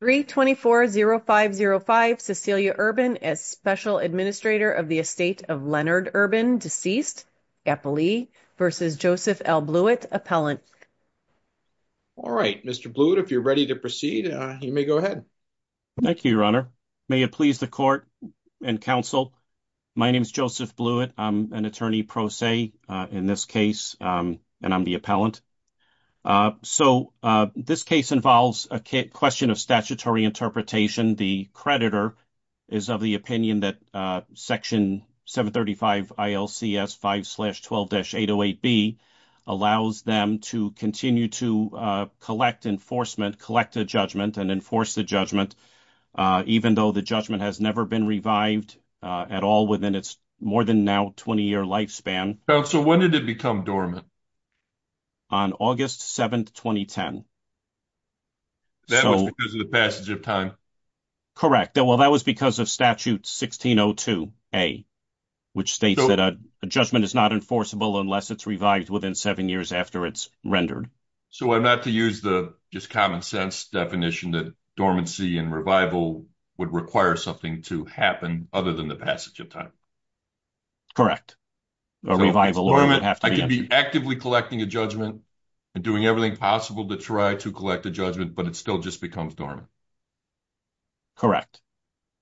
3-24-0-5-0-5, Cecilia Urban, as Special Administrator of the Estate of Leonard Urban, deceased. Eppley versus Joseph L. Blewett, Appellant. All right, Mr. Blewett, if you're ready to proceed, you may go ahead. Thank you, Your Honor. May it please the court and counsel, my name is Joseph Blewett. I'm an attorney pro se in this case and I'm the Appellant. So this case involves a question of statutory interpretation. The creditor is of the opinion that Section 735 ILCS 5-12-808B allows them to continue to collect enforcement, collect a judgment, and enforce the judgment, even though the judgment has never been revived at all within its more than now 20-year lifespan. Counsel, when did it become dormant? On August 7, 2010. That was because of the passage of time? Correct. Well, that was because of Statute 1602A, which states that a judgment is not enforceable unless it's revived within seven years after it's rendered. So I'm not to use the just common sense definition that dormancy and revival would require something to happen other than the passage of time. Correct. I could be actively collecting a judgment and doing everything possible to try to collect a judgment, but it still just becomes dormant. Correct.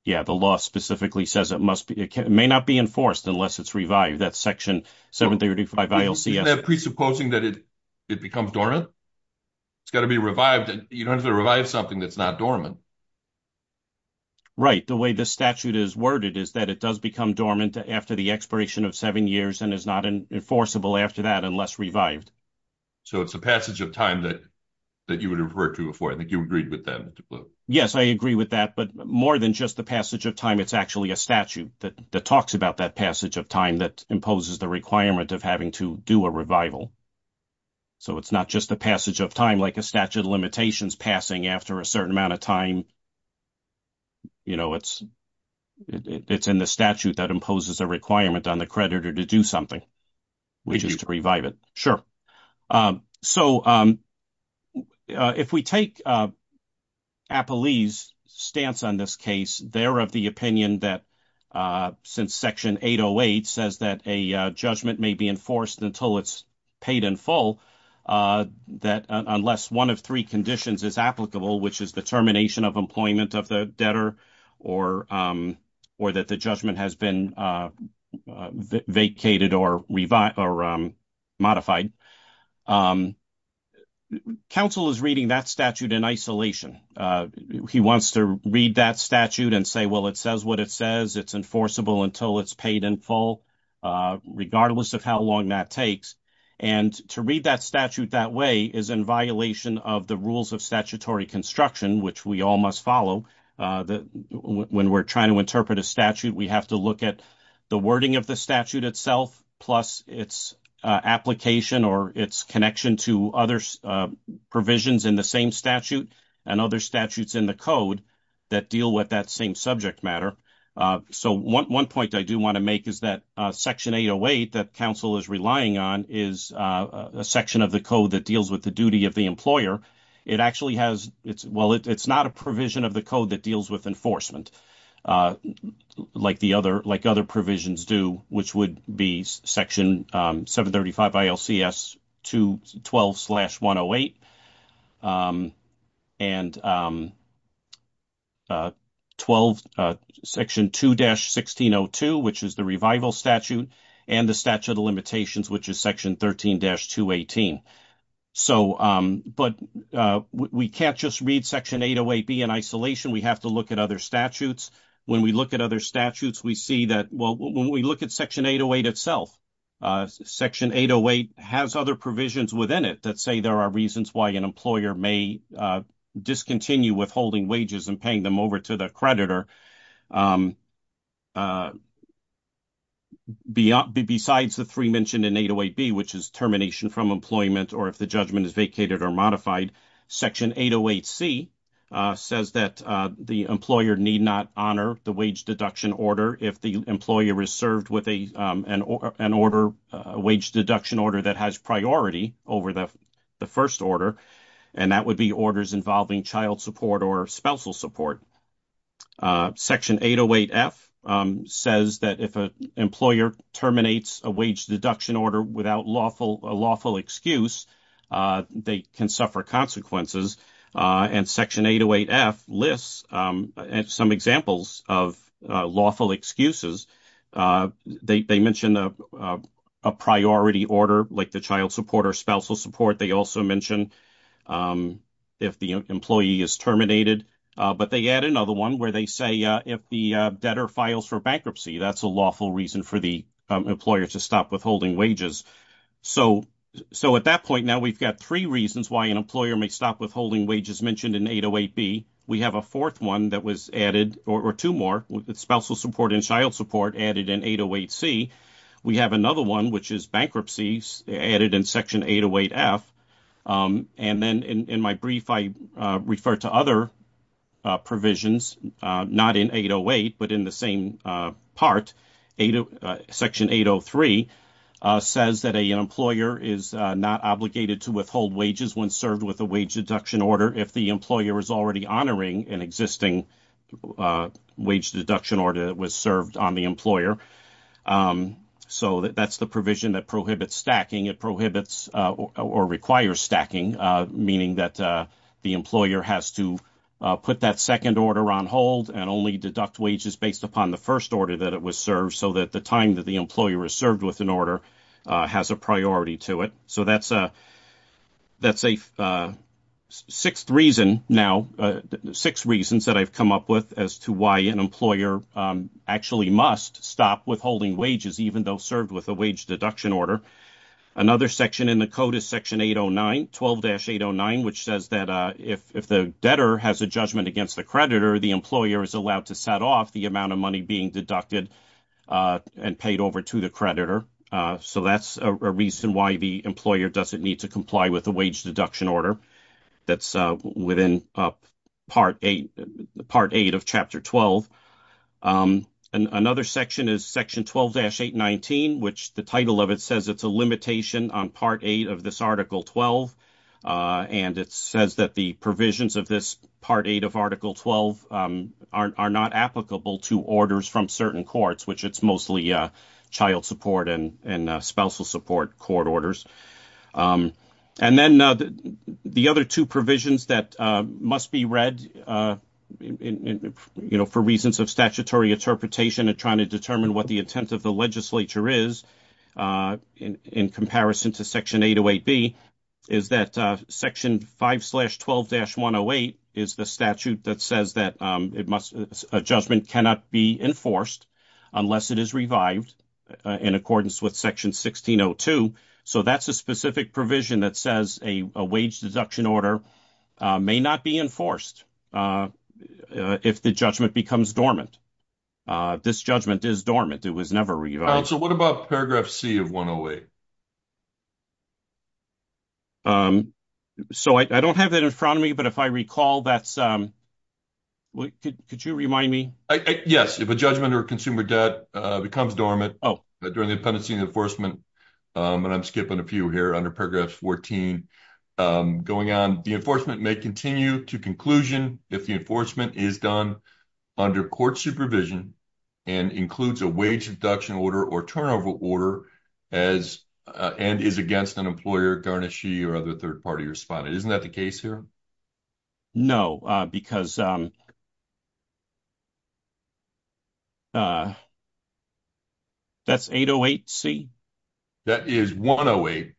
Yeah, the law specifically says it must be, it may not be enforced unless it's revived. That's Section 735 ILCS. Isn't that presupposing that it becomes dormant? It's got to be revived. You don't have to revive something that's not dormant. Right. The way this statute is worded is that it does become dormant after the expiration of seven years and is not enforceable after that unless revived. So it's the passage of time that you would refer to before. I think you agreed with that, Mr. Blue. Yes, I agree with that, but more than just the passage of time, it's actually a statute that talks about that passage of time that imposes the requirement of having to do a revival. So it's not just the passage of time like a statute of limitations passing after a certain amount of time. You know, it's in the statute that imposes a requirement on the creditor to do something, which is to revive it. Sure. So if we take Apolli's stance on this case, they're of the opinion that since Section 808 says that a judgment may be enforced until it's paid in full, that unless one of three conditions is applicable, which is the termination of employment of the debtor or that the judgment has been vacated or modified, counsel is reading that statute in isolation. He wants to read that statute and say, well, it says what it says. It's enforceable until it's paid in full, regardless of how long that takes. And to read that statute that way is in violation of the rules of statutory construction, which we all must follow. When we're trying to interpret a statute, we have to look at the wording of the statute itself, plus its application or its connection to other provisions in the same statute and other statutes in the code that deal with that same subject matter. So one point I do want to make is that Section 808 that counsel is relying on is a section of the code that deals with the duty of the employer. It actually has, well, it's not a provision of the code that deals with enforcement like the other, like other provisions do, which would be Section 735 ILCS 212-108 and Section 2-1602, which is the revival statute and the statute of limitations, which is Section 13-218. So, but we can't just read Section 808-B in isolation. We have to look at other statutes. When we look at other statutes, we see that, when we look at Section 808 itself, Section 808 has other provisions within it that say there are reasons why an employer may discontinue withholding wages and paying them over to the creditor. Besides the three mentioned in 808-B, which is termination from employment or if the judgment is vacated or modified, Section 808-C says that the employer need not honor the wage deduction order if the employer is served with an order, a wage deduction order that has priority over the first order, and that would be orders involving child support or spousal support. Section 808-F says that if an employer terminates a wage deduction order without lawful, a lawful excuses, they mention a priority order like the child support or spousal support. They also mention if the employee is terminated, but they add another one where they say if the debtor files for bankruptcy, that's a lawful reason for the employer to stop withholding wages. So, so at that point, now we've got three reasons why an employer may stop withholding wages mentioned in 808-B. We have a fourth one that was added, or two more, spousal support and child support added in 808-C. We have another one, which is bankruptcies added in Section 808-F. And then in my brief, I refer to other provisions, not in 808, but in the same part. Section 803 says that an employer is not obligated to withhold wages when served with a wage deduction order if the employer is already honoring an existing wage deduction order that was served on the employer. So that's the provision that prohibits stacking. It prohibits or requires stacking, meaning that the employer has to put that second order on hold and only deduct wages based upon the first order that it was served, so that the time that the employer is served with an order has a priority to it. So that's a, that's a sixth reason now, six reasons that I've come up with as to why an employer actually must stop withholding wages, even though served with a wage deduction order. Another section in the code is Section 809, 12-809, which says that if the debtor has a judgment against the creditor, the employer is allowed to set off the amount of money being deducted and paid over to the creditor. So that's a reason why the employer doesn't need to comply with the wage deduction order that's within Part 8 of Chapter 12. Another section is Section 12-819, which the title of it says it's a limitation on Part 8 of this Article 12, and it says that the provisions of this Part 8 of Article 12 are not applicable to orders from certain courts, which it's mostly child support and spousal support court orders. And then the other two provisions that must be read, you know, for reasons of statutory interpretation and trying to determine what the intent of the legislature is, in comparison to Section 808B, is that Section 5-12-108 is the statute that says that a judgment cannot be enforced unless it is revived in accordance with Section 1602. So that's a specific provision that says a wage deduction order may not be enforced if the judgment becomes dormant. This judgment is dormant. It was never revived. So what about Paragraph C of 108? So I don't have that in front of me, but if I recall, that's... Could you remind me? Yes, if a judgment or consumer debt becomes dormant during the pendency and enforcement, and I'm skipping a few here under Paragraph 14 going on, the enforcement may continue to conclusion if the enforcement is done under court supervision and includes a wage deduction order or turnover order and is against an employer, garnishee, or other third-party respondent. Isn't that the case here? No, because... That's 808C? That is 108C,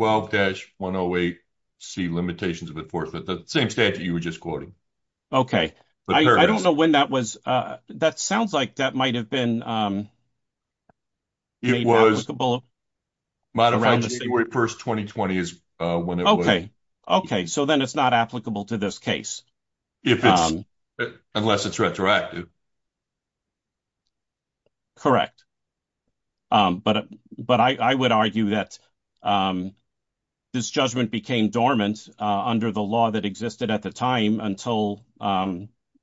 12-108C, limitations of enforcement, the same statute you were just quoting. Okay. I don't know when that was. That sounds like that might have been... It was modified January 1st, 2020 is when it was... Okay. Okay. So then it's not applicable to this case. Unless it's retroactive. Correct. But I would argue that this judgment became dormant under the law that existed at the time until...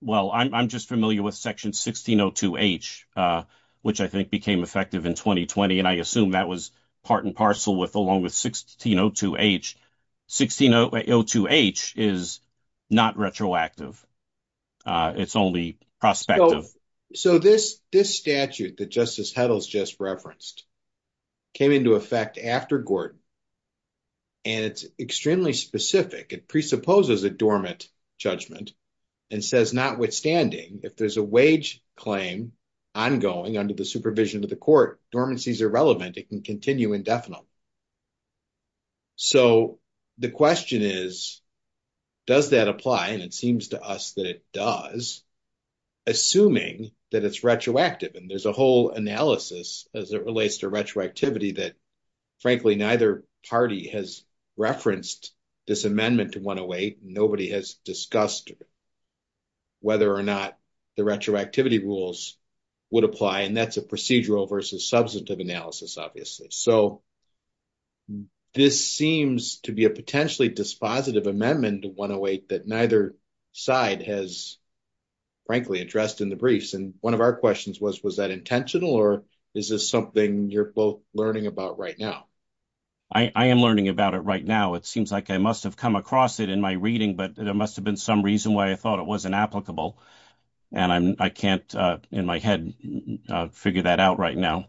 Well, I'm just familiar with Section 1602H, which I think became effective in 2020, and I assume that was part and parcel with along with 1602H. 1602H is not retroactive. It's only prospective. So this statute that Justice Heddles just referenced came into effect after Gordon, and it's extremely specific. It presupposes a dormant judgment and says notwithstanding, if there's a wage claim ongoing under the supervision of the court, dormancy is irrelevant. It can continue indefinite. So the question is, does that apply? And it seems to us that it does, assuming that it's retroactive. And there's a whole analysis as it relates to retroactivity that, frankly, neither party has referenced this amendment to 108. Nobody has discussed whether or not the retroactivity rules would apply. And that's a procedural versus substantive analysis, obviously. So this seems to be a potentially dispositive amendment to 108 that neither side has, frankly, addressed in the briefs. And one of our questions was, was that intentional, or is this something you're both learning about right now? I am learning about it right now. It seems like I must have come across it in my reading, but there must have been some reason why I thought it wasn't applicable. And I can't, in my head, figure that out right now.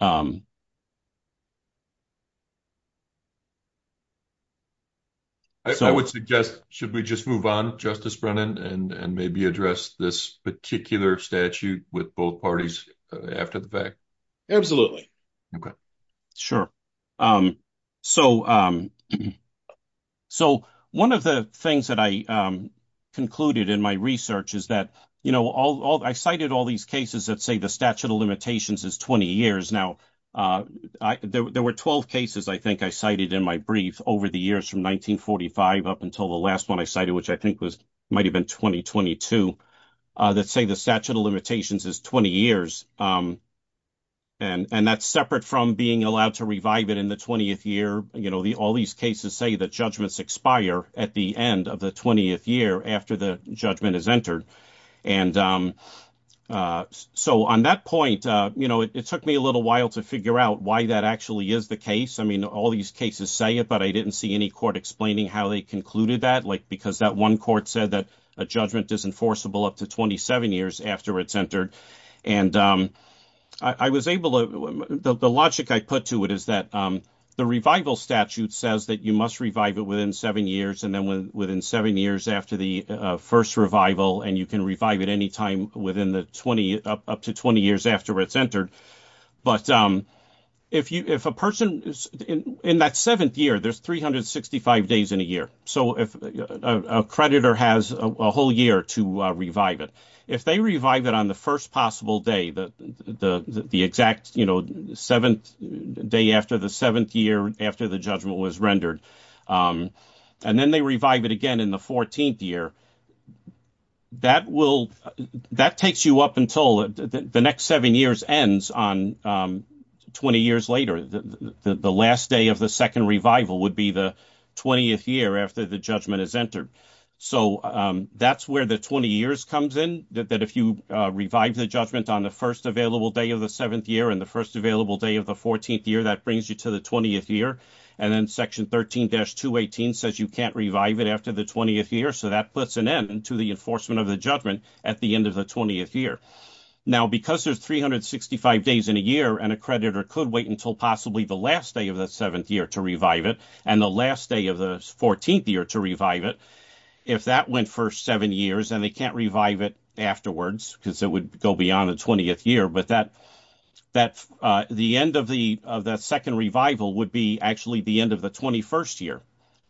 I would suggest, should we just move on, Justice Brennan, and maybe address this particular statute with both parties after the fact? Sure. So one of the things that I concluded in my research is that I cited all these cases that say the statute of limitations is 20 years. Now, there were 12 cases, I think, I cited in my brief over the years from 1945 up until the last one I cited, which I think might have been 2022. That say the statute of limitations is 20 years. And that's separate from being allowed to revive it in the 20th year. All these cases say that judgments expire at the end of the 20th year after the judgment is entered. And so on that point, it took me a little while to figure out why that actually is the case. I mean, all these cases say it, but I didn't see any court explaining how they concluded that, like, because that one court said that a judgment is enforceable up to 27 years after it's entered. And I was able to, the logic I put to it is that the revival statute says that you must revive it within seven years, and then within seven years after the first revival, and you can revive it any time within the 20, up to 20 years after it's entered. But if a person, in that seventh year, there's 365 days in a year. So if a creditor has a whole year to revive it, if they revive it on the first possible day, the exact seventh day after the seventh year after the judgment was rendered, and then they revive it again in the 14th year, that will, that takes you up until the next seven years ends on 20 years later. The last day of the second revival would be the 20th year after the judgment is entered. So that's where the 20 years comes in, that if you revive the judgment on the first available day of the seventh year and the first available day of the 14th year, that brings you to the 20th year. And then section 13-218 says you can't revive it after the 20th year, so that puts an end to the enforcement of the judgment at the end of the 20th year. Now, because there's 365 days in a year, and a creditor could wait until possibly the last day of the seventh year to revive it, and the last day of the 14th year to revive it, if that went for seven years and they can't revive it afterwards, because it would go beyond the 20th year, but that, that, the end of the, of that second revival would be actually the end of the 21st year.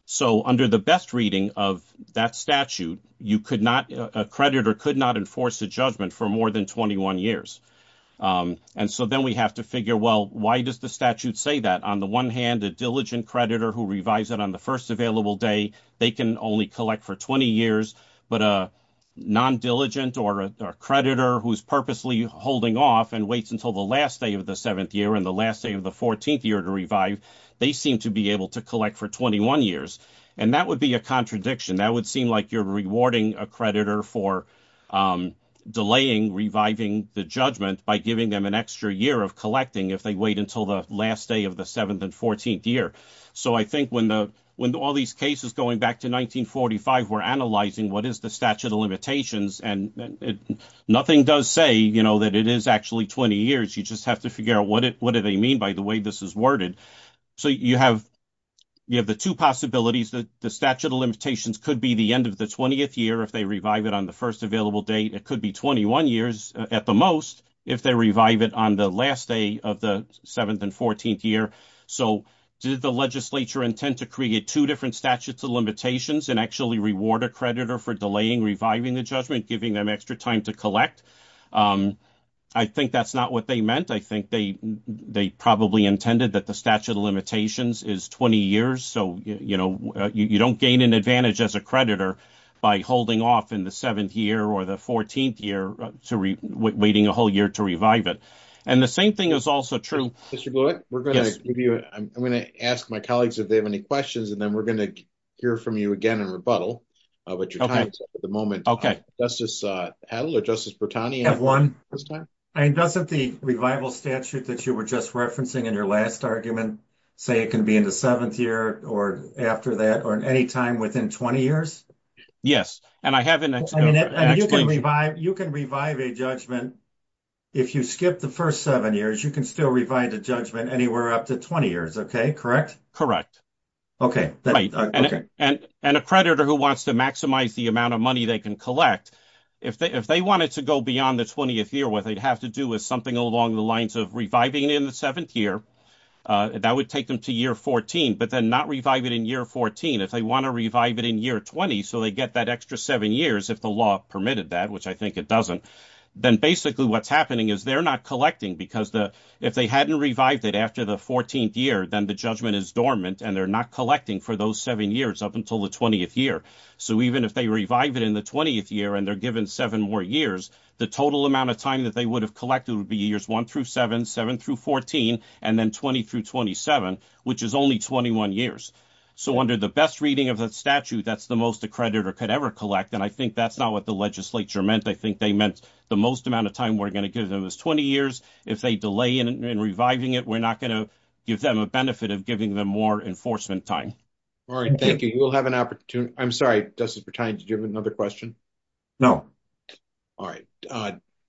So under the best reading of that statute, you could not, a creditor could not enforce a judgment for more than 21 years. And so then we have to figure, well, why does the statute say that? On the one hand, a diligent creditor who revives it on the first available day, they can only collect for 20 years, but a non-diligent or a creditor who's purposely holding off and waits until the last day of the seventh year and the last day of the 14th year to revive, they seem to be able to collect for 21 years. And that would be a contradiction. That would seem like you're rewarding a creditor for delaying reviving the judgment by giving them an extra year of collecting if they wait until the last day of the seventh and 14th year. So I think when the, when all these cases going back to 1945 were analyzing what is the statute of limitations, and nothing does say, you know, that it is actually 20 years, you just have to figure out what it, what do they mean by the way this is worded? So you have, you have the two possibilities that the statute of limitations could be the end of the 20th year if they revive it on the first available date. It could be 21 years at the most if they revive it on the last day of the seventh and 14th year. So did the legislature intend to create two different statutes of limitations and actually reward a creditor for delaying reviving the judgment, giving them extra time to collect? Um, I think that's not what they meant. I think they, they probably intended that the statute of limitations is 20 years. So, you know, you don't gain an advantage as a creditor by holding off in the seventh year or the 14th year to re waiting a whole year to revive it. And the same thing is also true. We're going to give you, I'm going to ask my colleagues if they have any questions, and then we're going to hear from you again and rebuttal, uh, what your time is at the moment. Justice, uh, Adler, Justice Bertani. I have one. I mean, doesn't the revival statute that you were just referencing in your last argument say it can be in the seventh year or after that, or in any time within 20 years? Yes. And I haven't, you can revive, you can revive a judgment. If you skip the first seven years, you can still revive the judgment anywhere up to 20 years. Okay. Correct. Correct. Okay. And, and a creditor who wants to maximize the amount of money they can collect, if they, if they want it to go beyond the 20th year, what they'd have to do is something along the lines of reviving in the seventh year, uh, that would take them to year 14, but then not revive it in year 14. If they want to revive it in year 20. So they get that extra seven years. If the law permitted that, which I think it doesn't, then basically what's happening is they're not collecting because the, if they hadn't revived it after the 14th year, then the judgment is dormant and they're not collecting for those seven years up until the 20th year. So even if they revive it in the 20th year and they're given seven more years, the total amount of time that they would have collected would be years one through seven, seven through 14, and then 20 through 27, which is only 21 years. So under the best reading of that statute, that's the most accredited or could ever collect. And I think that's not what the legislature meant. I think they meant the most amount of time we're going to give them is 20 years. If they delay in reviving it, we're not going to give them a benefit of giving them more enforcement time. All right. Thank you. You will have an opportunity. I'm sorry, Justice Bertani, did you have another question? No. All right.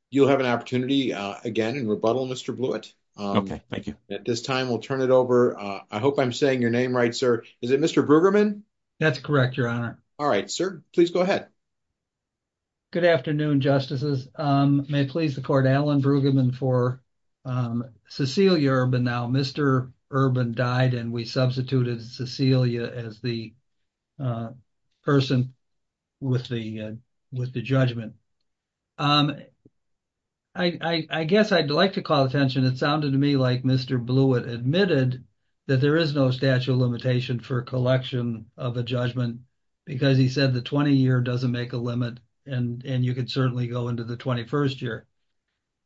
You'll have an opportunity again in rebuttal, Mr. Blewett. Okay, thank you. At this time, we'll turn it over. I hope I'm saying your name right, sir. Is it Mr. Brueggemann? That's correct, your honor. All right, sir, please go ahead. Good afternoon, justices. May it please the court, Alan Brueggemann for Cecilia Urban. Now, Mr. Urban died and we substituted Cecilia as the person with the judgment. I guess I'd like to call attention, it sounded to me like Mr. Blewett admitted that there is no statute of limitation for collection of a judgment because he said the 20-year doesn't make a limit and you could certainly go into the 21st year.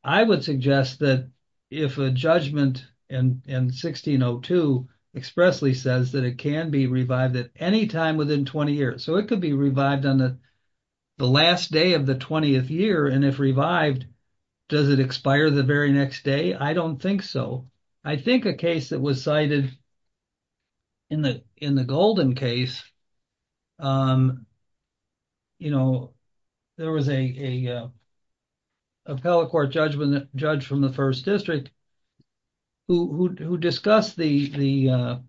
I would suggest that if a judgment in 1602 expressly says that it can be revived at any time within 20 years, so it could be revived on the last day of the 20th year and if revived, does it expire the very next day? I don't think so. I think a case that was cited in the Golden Case, there was an appellate court judge from the first district who discussed the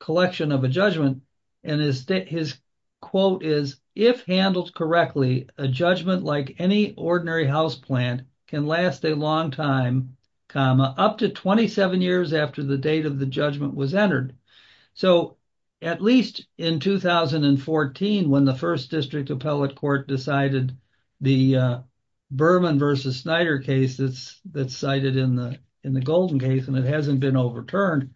collection of a judgment and his quote is, if handled correctly, a judgment like any ordinary house plant can last a long time up to 27 years after the date of the judgment was entered. So, at least in 2014 when the first district appellate court decided the Berman versus Snyder case that's cited in the Golden Case and it hasn't been overturned,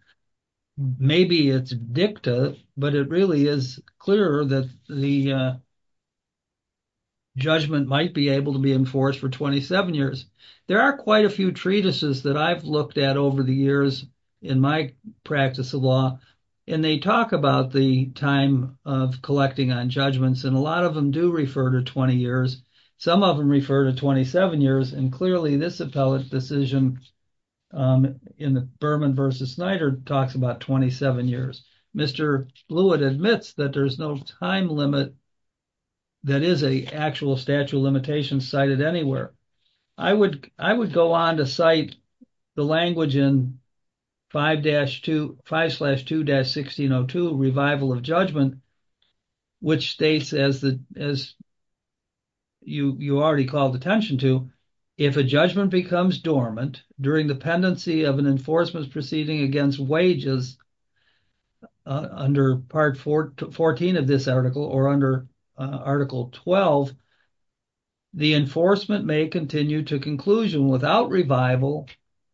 maybe it's dicta, but it really is clear that the judgment might be able to be enforced for 27 years. There are quite a few treatises that I've looked at over the years in my practice of law and they talk about the time of collecting on judgments and a lot of them do refer to 20 years. Some of them refer to 27 years and clearly this appellate decision in the Berman versus Snyder talks about 27 years. Mr. Blewett admits that there's no time limit that is a actual statute limitation cited anywhere. I would go on to cite the language in 5-2-1602 revival of judgment which states as you already called attention to, if a judgment becomes dormant during the pendency of an enforcement proceeding against wages under part 14 of this article or under article 12, the enforcement may continue to conclusion without revival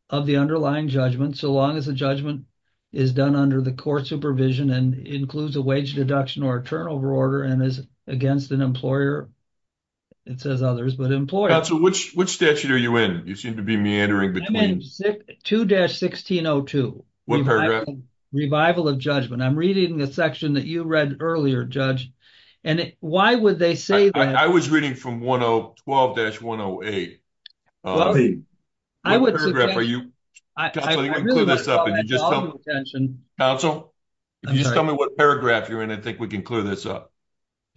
of the underlying judgment so long as the judgment is done under the court supervision and includes a wage deduction or a turnover order and is against an employer, it says others, but employer. Which statute are you in? You seem to be meandering between. 2-1602. What paragraph? Revival of judgment. I'm reading a section that you read earlier, Judge, and why would they say that? I was reading from 112-108. Counsel, just tell me what paragraph you're in. I think we can clear this up.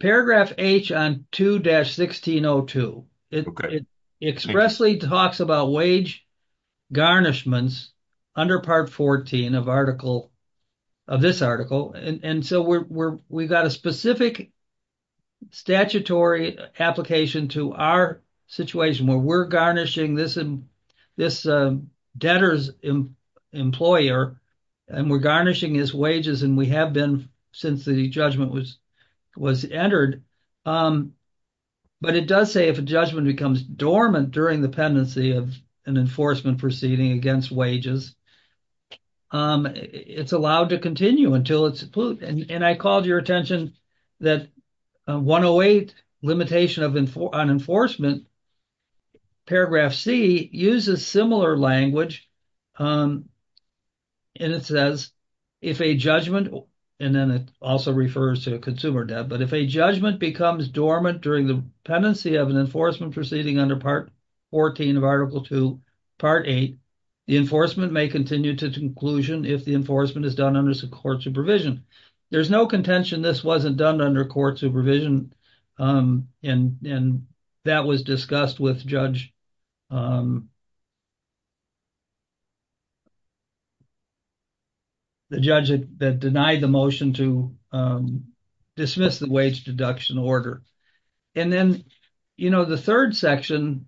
Paragraph H on 2-1602. It expressly talks about wage garnishments under part 14 of article, of this article, and so we've got a specific statutory application to our situation where we're garnishing this debtor's employer and we're garnishing his wages and we have been since the judgment was entered, but it does say if a judgment becomes dormant during the an enforcement proceeding against wages, it's allowed to continue until it's approved. And I called your attention that 108 limitation on enforcement, paragraph C, uses similar language and it says if a judgment, and then it also refers to a consumer debt, but if a judgment becomes dormant during the pendency of an enforcement proceeding under part 14 of article 2, part 8, the enforcement may continue to conclusion if the enforcement is done under court supervision. There's no contention this wasn't done under court supervision and that was discussed with Judge, um, the judge that denied the motion to dismiss the wage deduction order. And then, you know, the third section,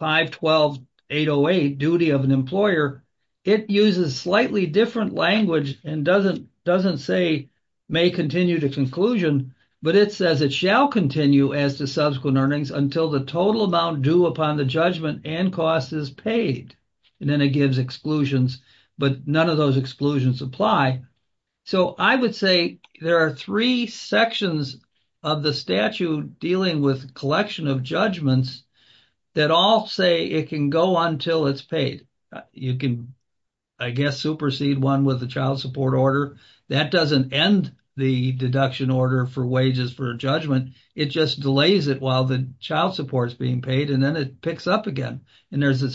512-808, duty of an employer, it uses slightly different language and doesn't, doesn't say may continue to conclusion, but it says it shall continue as subsequent earnings until the total amount due upon the judgment and cost is paid. And then it gives exclusions, but none of those exclusions apply. So I would say there are three sections of the statute dealing with collection of judgments that all say it can go until it's paid. You can, I guess, supersede one with the child support order. That doesn't end the deduction order for wages for a judgment, it just delays it while the child support is being paid and then it picks up again. And there's a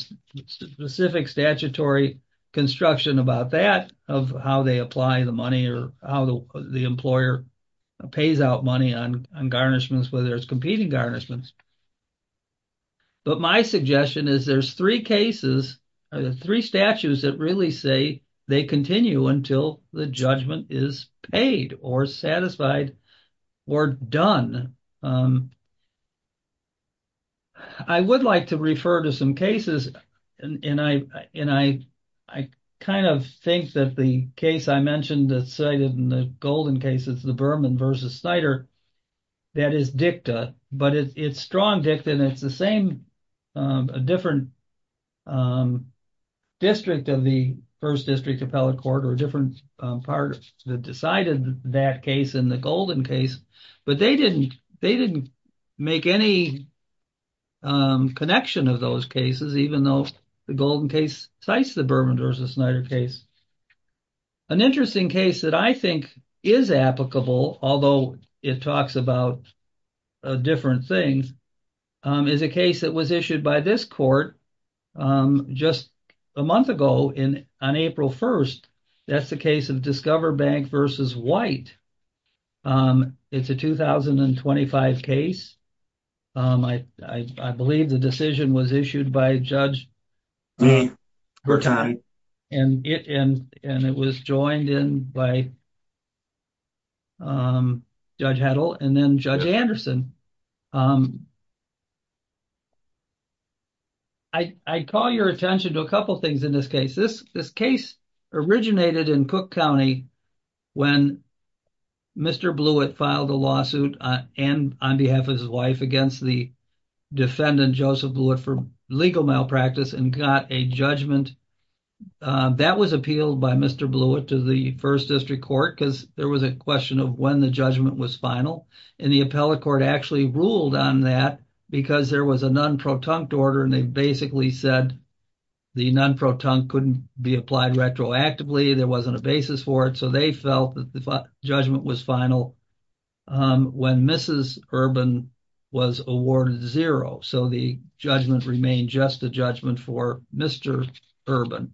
specific statutory construction about that, of how they apply the money or how the employer pays out money on garnishments, whether it's competing garnishments. But my suggestion is there's three cases, three statutes that really say they continue until the judgment is paid or satisfied or done. I would like to refer to some cases, and I, and I, I kind of think that the case I mentioned that's cited in the golden cases, the Berman v. Snyder, that is dicta, but it's strong dicta and it's the same, a different district of the first district appellate court or a different part that decided that case in the golden case, but they didn't, they didn't make any connection of those cases, even though the golden case cites the Berman v. Snyder case. An interesting case that I think is applicable, although it talks about different things, is a case that was issued by this court just a month ago in, on April 1st. That's the case of Discover Bank v. White. It's a 2025 case. I, I, I believe the decision was issued by Judge, and it, and, and it was joined in by Judge Heddle and then Judge Anderson. I, I call your attention to a couple things in this case. This, this case originated in Cook County when Mr. Blewett filed a lawsuit on, and on behalf of his wife against the defendant Joseph Blewett for legal malpractice and got a judgment. That was appealed by Mr. Blewett to the first district court because there was a question of when the judgment was final, and the appellate court actually ruled on that because there was a non-protunct order, and they basically said the non-protunct couldn't be applied retroactively, there wasn't a basis for it, so they felt that the judgment was final when Mrs. Urban was awarded zero, so the judgment remained just a judgment for Mr. Urban.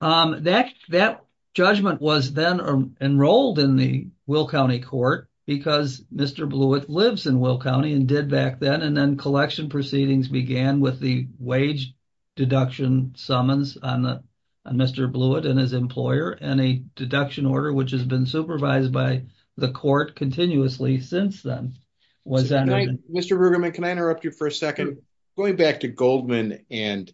That, that judgment was then enrolled in the Will County court because Mr. Blewett lives in Will County and did back then, and then collection proceedings began with the wage deduction summons on the, on Mr. Blewett and his employer, and a deduction order which has been supervised by the court continuously since then was entered. Mr. Bruggeman, can I interrupt you for a second? Going back to Goldman and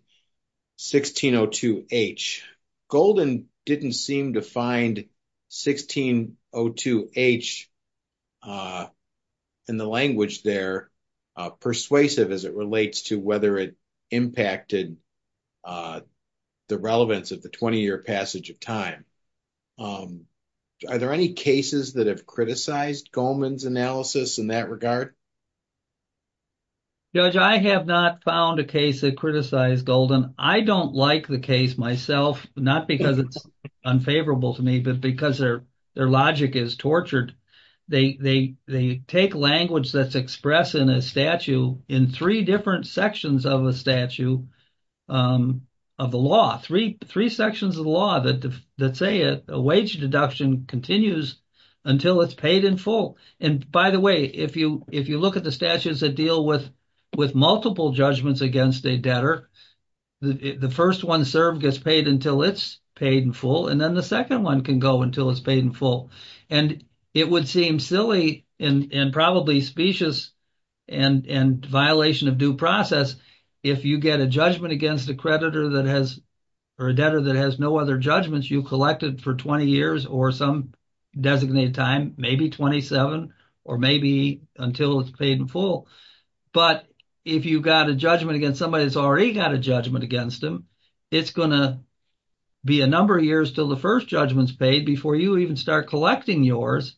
1602H, Golden didn't seem to find 1602H in the language there persuasive as it relates to whether it impacted the relevance of the 20-year passage of time. Are there any cases that have criticized Goldman's analysis in that regard? Judge, I have not found a case that criticized Golden. I don't like the case myself, not because it's unfavorable to me, but because their logic is tortured. They take language that's expressed in a statute in three different sections of a statute, of the law, three sections of the law that say a wage deduction continues until it's paid in full. And by the way, if you look at the statutes that deal with multiple judgments against a debtor, the first one served gets paid until it's paid in full, and then the second one can go until it's paid in full. And it would seem silly and probably specious and violation of due process if you get a judgment against a creditor that has, or a debtor that has no other judgments you collected for 20 years or some designated time, maybe 27, or maybe until it's paid in full. But if you got a judgment against somebody that's already got a judgment against them, it's going to be a number of years till the first judgment's paid before you even start collecting yours,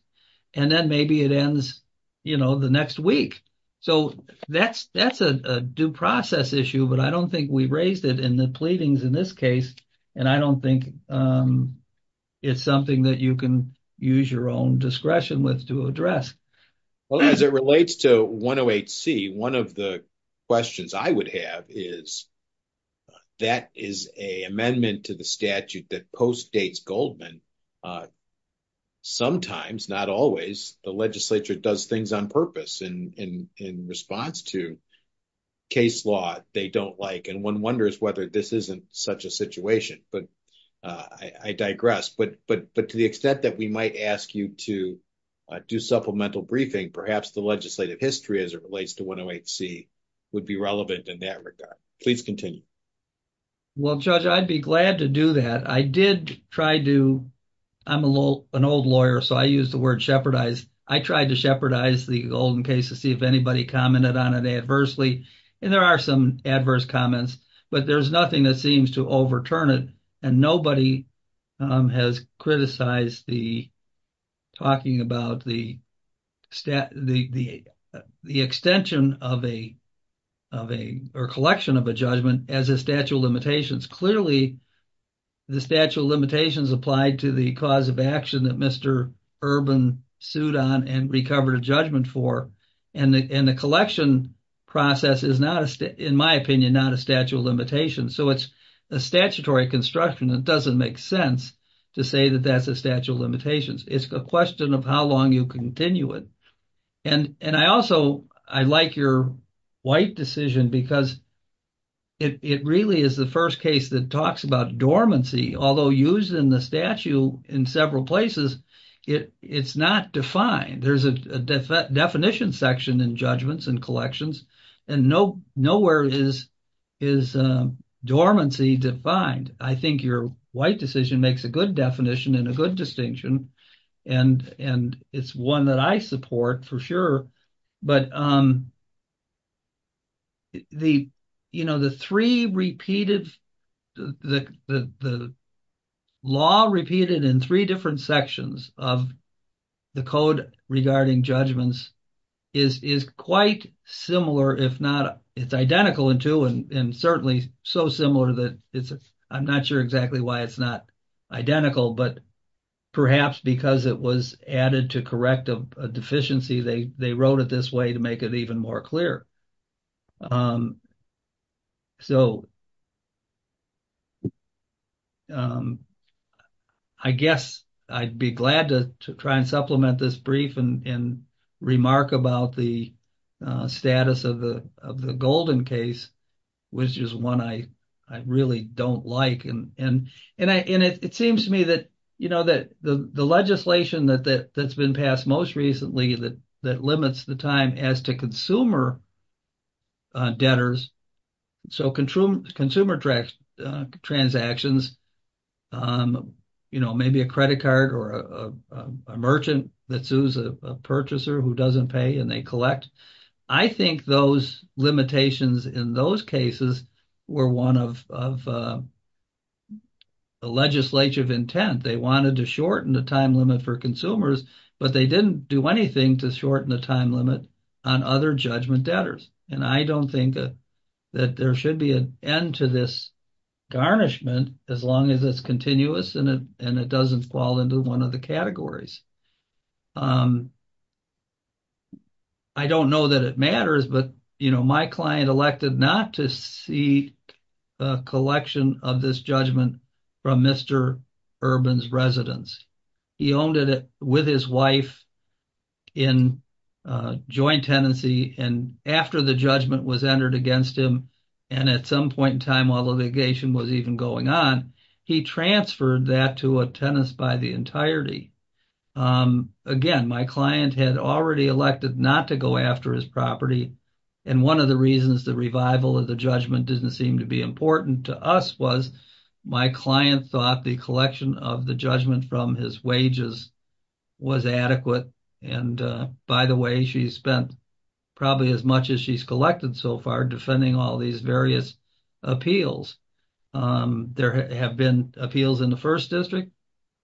and then maybe it ends, you know, the next week. So that's a due process issue, but I don't think we raised it in the pleadings in this case, and I don't think it's something that you can use your own discretion with to address. Well, as it relates to 108C, one of the questions I would have is, that is an amendment to the statute that postdates Goldman. Sometimes, not always, the legislature does things on purpose in response to case law they don't like, and one wonders whether this isn't such a situation. But I digress. But to the extent that we might ask you to do supplemental briefing, perhaps the legislative history as it relates to 108C would be relevant in that regard. Please continue. Well, Judge, I'd be glad to do that. I did try to, I'm an old lawyer, so I use the word shepherdize. I tried to shepherdize the Golden case to see if anybody commented on it adversely, and there are some adverse comments, but there's nothing that seems to overturn it, and nobody has criticized the talking about the extension of a, or collection of a judgment as a statute of limitations. Clearly, the statute of limitations applied to the cause of action that Mr. Urban sued on and recovered a judgment for, and the collection process is not, in my opinion, not a statute of limitations. So, it's a statutory construction that doesn't make sense to say that that's a statute of limitations. It's a question of how long you continue it. And I also, I like your white decision because it really is the first case that talks about dormancy, although used in the statute in several places, it's not defined. There's a definition section in judgments and collections, and nowhere is dormancy defined. I think your white decision makes a good definition and a good distinction, and it's one that I support for sure. But the, you know, the three repeated, the law repeated in three different sections of the code regarding judgments is quite similar, if not, it's identical in two, and certainly so similar that it's, I'm not sure exactly why it's not identical, but perhaps because it was added to correct a deficiency, they wrote it this way to make it even more clear. So, I guess I'd be glad to try and supplement this brief and remark about the status of the Golden case, which is one I really don't like. And it seems to me that, you know, that the legislation that's been passed most recently that limits the time as to consumer debtors, so consumer transactions, you know, maybe a credit card or a merchant that sues a purchaser who doesn't pay and they collect. I think those limitations in those cases were one of the legislative intent. They wanted to shorten the time limit for consumers, but they didn't do anything to shorten the time limit on other judgment debtors, and I don't think that there should be an end to this garnishment as long as it's continuous and it doesn't fall into one of the categories. I don't know that it matters, but, you know, my client elected not to seek a collection of this judgment from Mr. Urban's residence. He owned it with his wife in joint tenancy, and after the judgment was entered against him, and at some point in time while litigation was even going on, he transferred that to a tenant by the entirety. Again, my client had already elected not to go after his property, and one of the reasons the revival of the judgment didn't seem to be important to us was my client thought the collection of the judgment from his wages was adequate, and by the way, she's spent probably as much as she's collected so far defending all these various appeals. There have been appeals in the First District,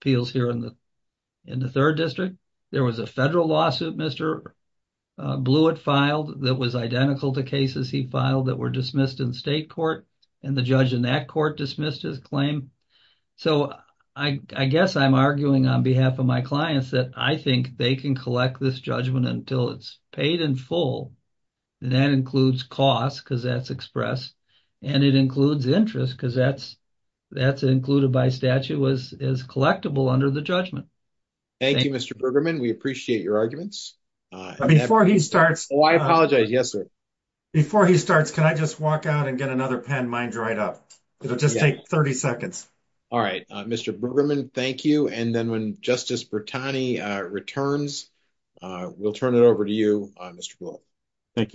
appeals here in the Third District. There was a federal lawsuit Mr. Blewett filed that was identical to cases he filed that were dismissed in state court, and the judge in that court dismissed his claim. So, I guess I'm arguing on behalf of my clients that I think they can collect this judgment until it's paid in full, and that includes cost because that's expressed, and it includes interest because that's included by statute as collectible under the judgment. Thank you, Mr. Bergerman. We appreciate your arguments. Before he starts... Oh, I apologize. Yes, sir. Before he starts, can I just walk out and get another pen? Mine's dried up. It'll just take 30 seconds. All right, Mr. Bergerman, thank you, and then when Justice Bertani returns, we'll turn it over to you, Judge.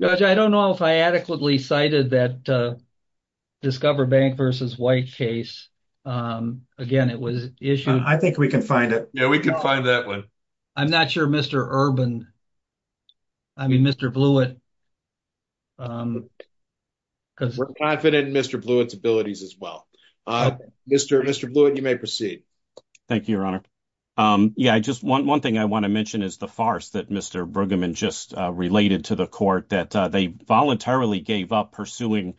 Judge, I don't know if I adequately cited that Discover Bank versus White case. Again, it was issued... I think we can find it. Yeah, we can find that one. I'm not sure Mr. Urban, I mean Mr. Blewett... We're confident in Mr. Blewett's abilities as well. Mr. Blewett, you may proceed. Thank you, Your Honor. Yeah, just one thing I want to mention is the farce that Mr. Bergerman just related to the court that they voluntarily gave up pursuing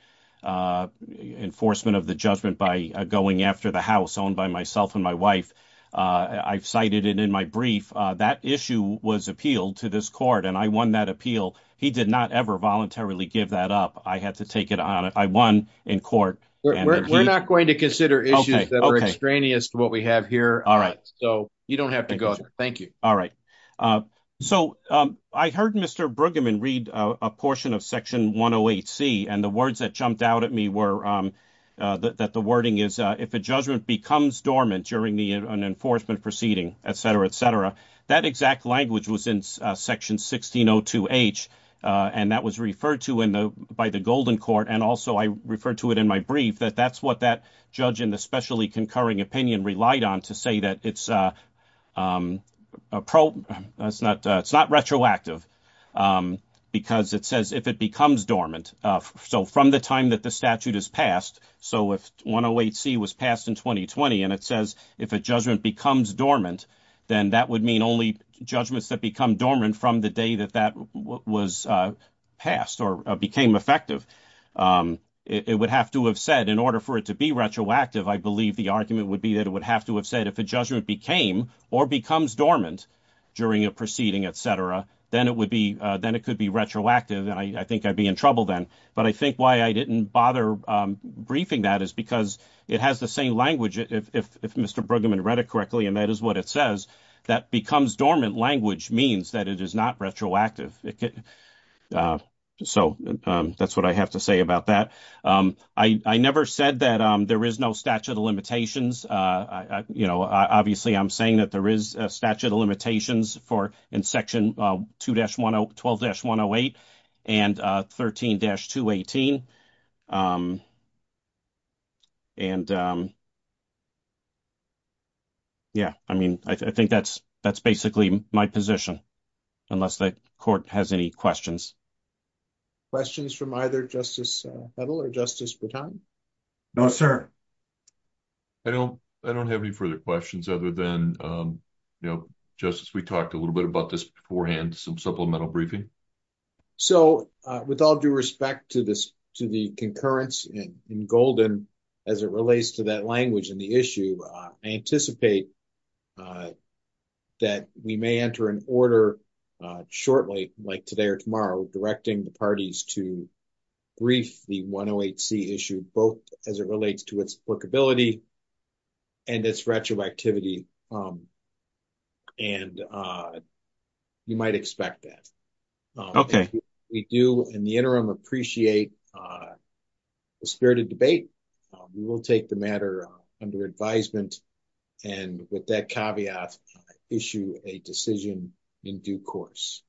enforcement of the judgment by going after the house owned by myself and my wife. I've cited it in my brief. That issue was appealed to this court, and I won that appeal. He did not ever voluntarily give that up. I had to take it on. I won in court. We're not going to consider issues that are extraneous to what have here. All right. So you don't have to go. Thank you. All right. So I heard Mr. Bergerman read a portion of Section 108C, and the words that jumped out at me were that the wording is if a judgment becomes dormant during an enforcement proceeding, etc., etc., that exact language was in Section 1602H, and that was referred to by the Golden Court, and also I referred to it in my that that's what that judge in the specially concurring opinion relied on to say that it's not retroactive because it says if it becomes dormant. So from the time that the statute is passed, so if 108C was passed in 2020 and it says if a judgment becomes dormant, then that would mean only judgments that become dormant from the day that that was passed or became effective. It would have to have said in order for it to be retroactive, I believe the argument would be that it would have to have said if a judgment became or becomes dormant during a proceeding, etc., then it would be then it could be retroactive, and I think I'd be in trouble then. But I think why I didn't bother briefing that is because it has the same language. If Mr. Bergerman read it correctly, and that is what it says, that becomes dormant language means that it is not retroactive. So that's what I have to say about that. I never said that there is no statute of limitations. You know, obviously I'm saying that there is a statute of limitations for in Section 12-108 and 13-218. And yeah, I mean, I think that's basically my position, unless the Court has any questions. Questions from either Justice Hedl or Justice Boutin? No, sir. I don't have any further questions other than, you know, Justice, we talked a little bit about this beforehand, some supplemental briefing. So, with all due respect to the concurrence in Golden as it relates to that language in the I anticipate that we may enter an order shortly, like today or tomorrow, directing the parties to brief the 108C issue, both as it relates to its workability and its retroactivity. And you might expect that. Okay. We do, in the interim, appreciate the spirited debate. We will take the matter under advisement and, with that caveat, issue a decision in due course.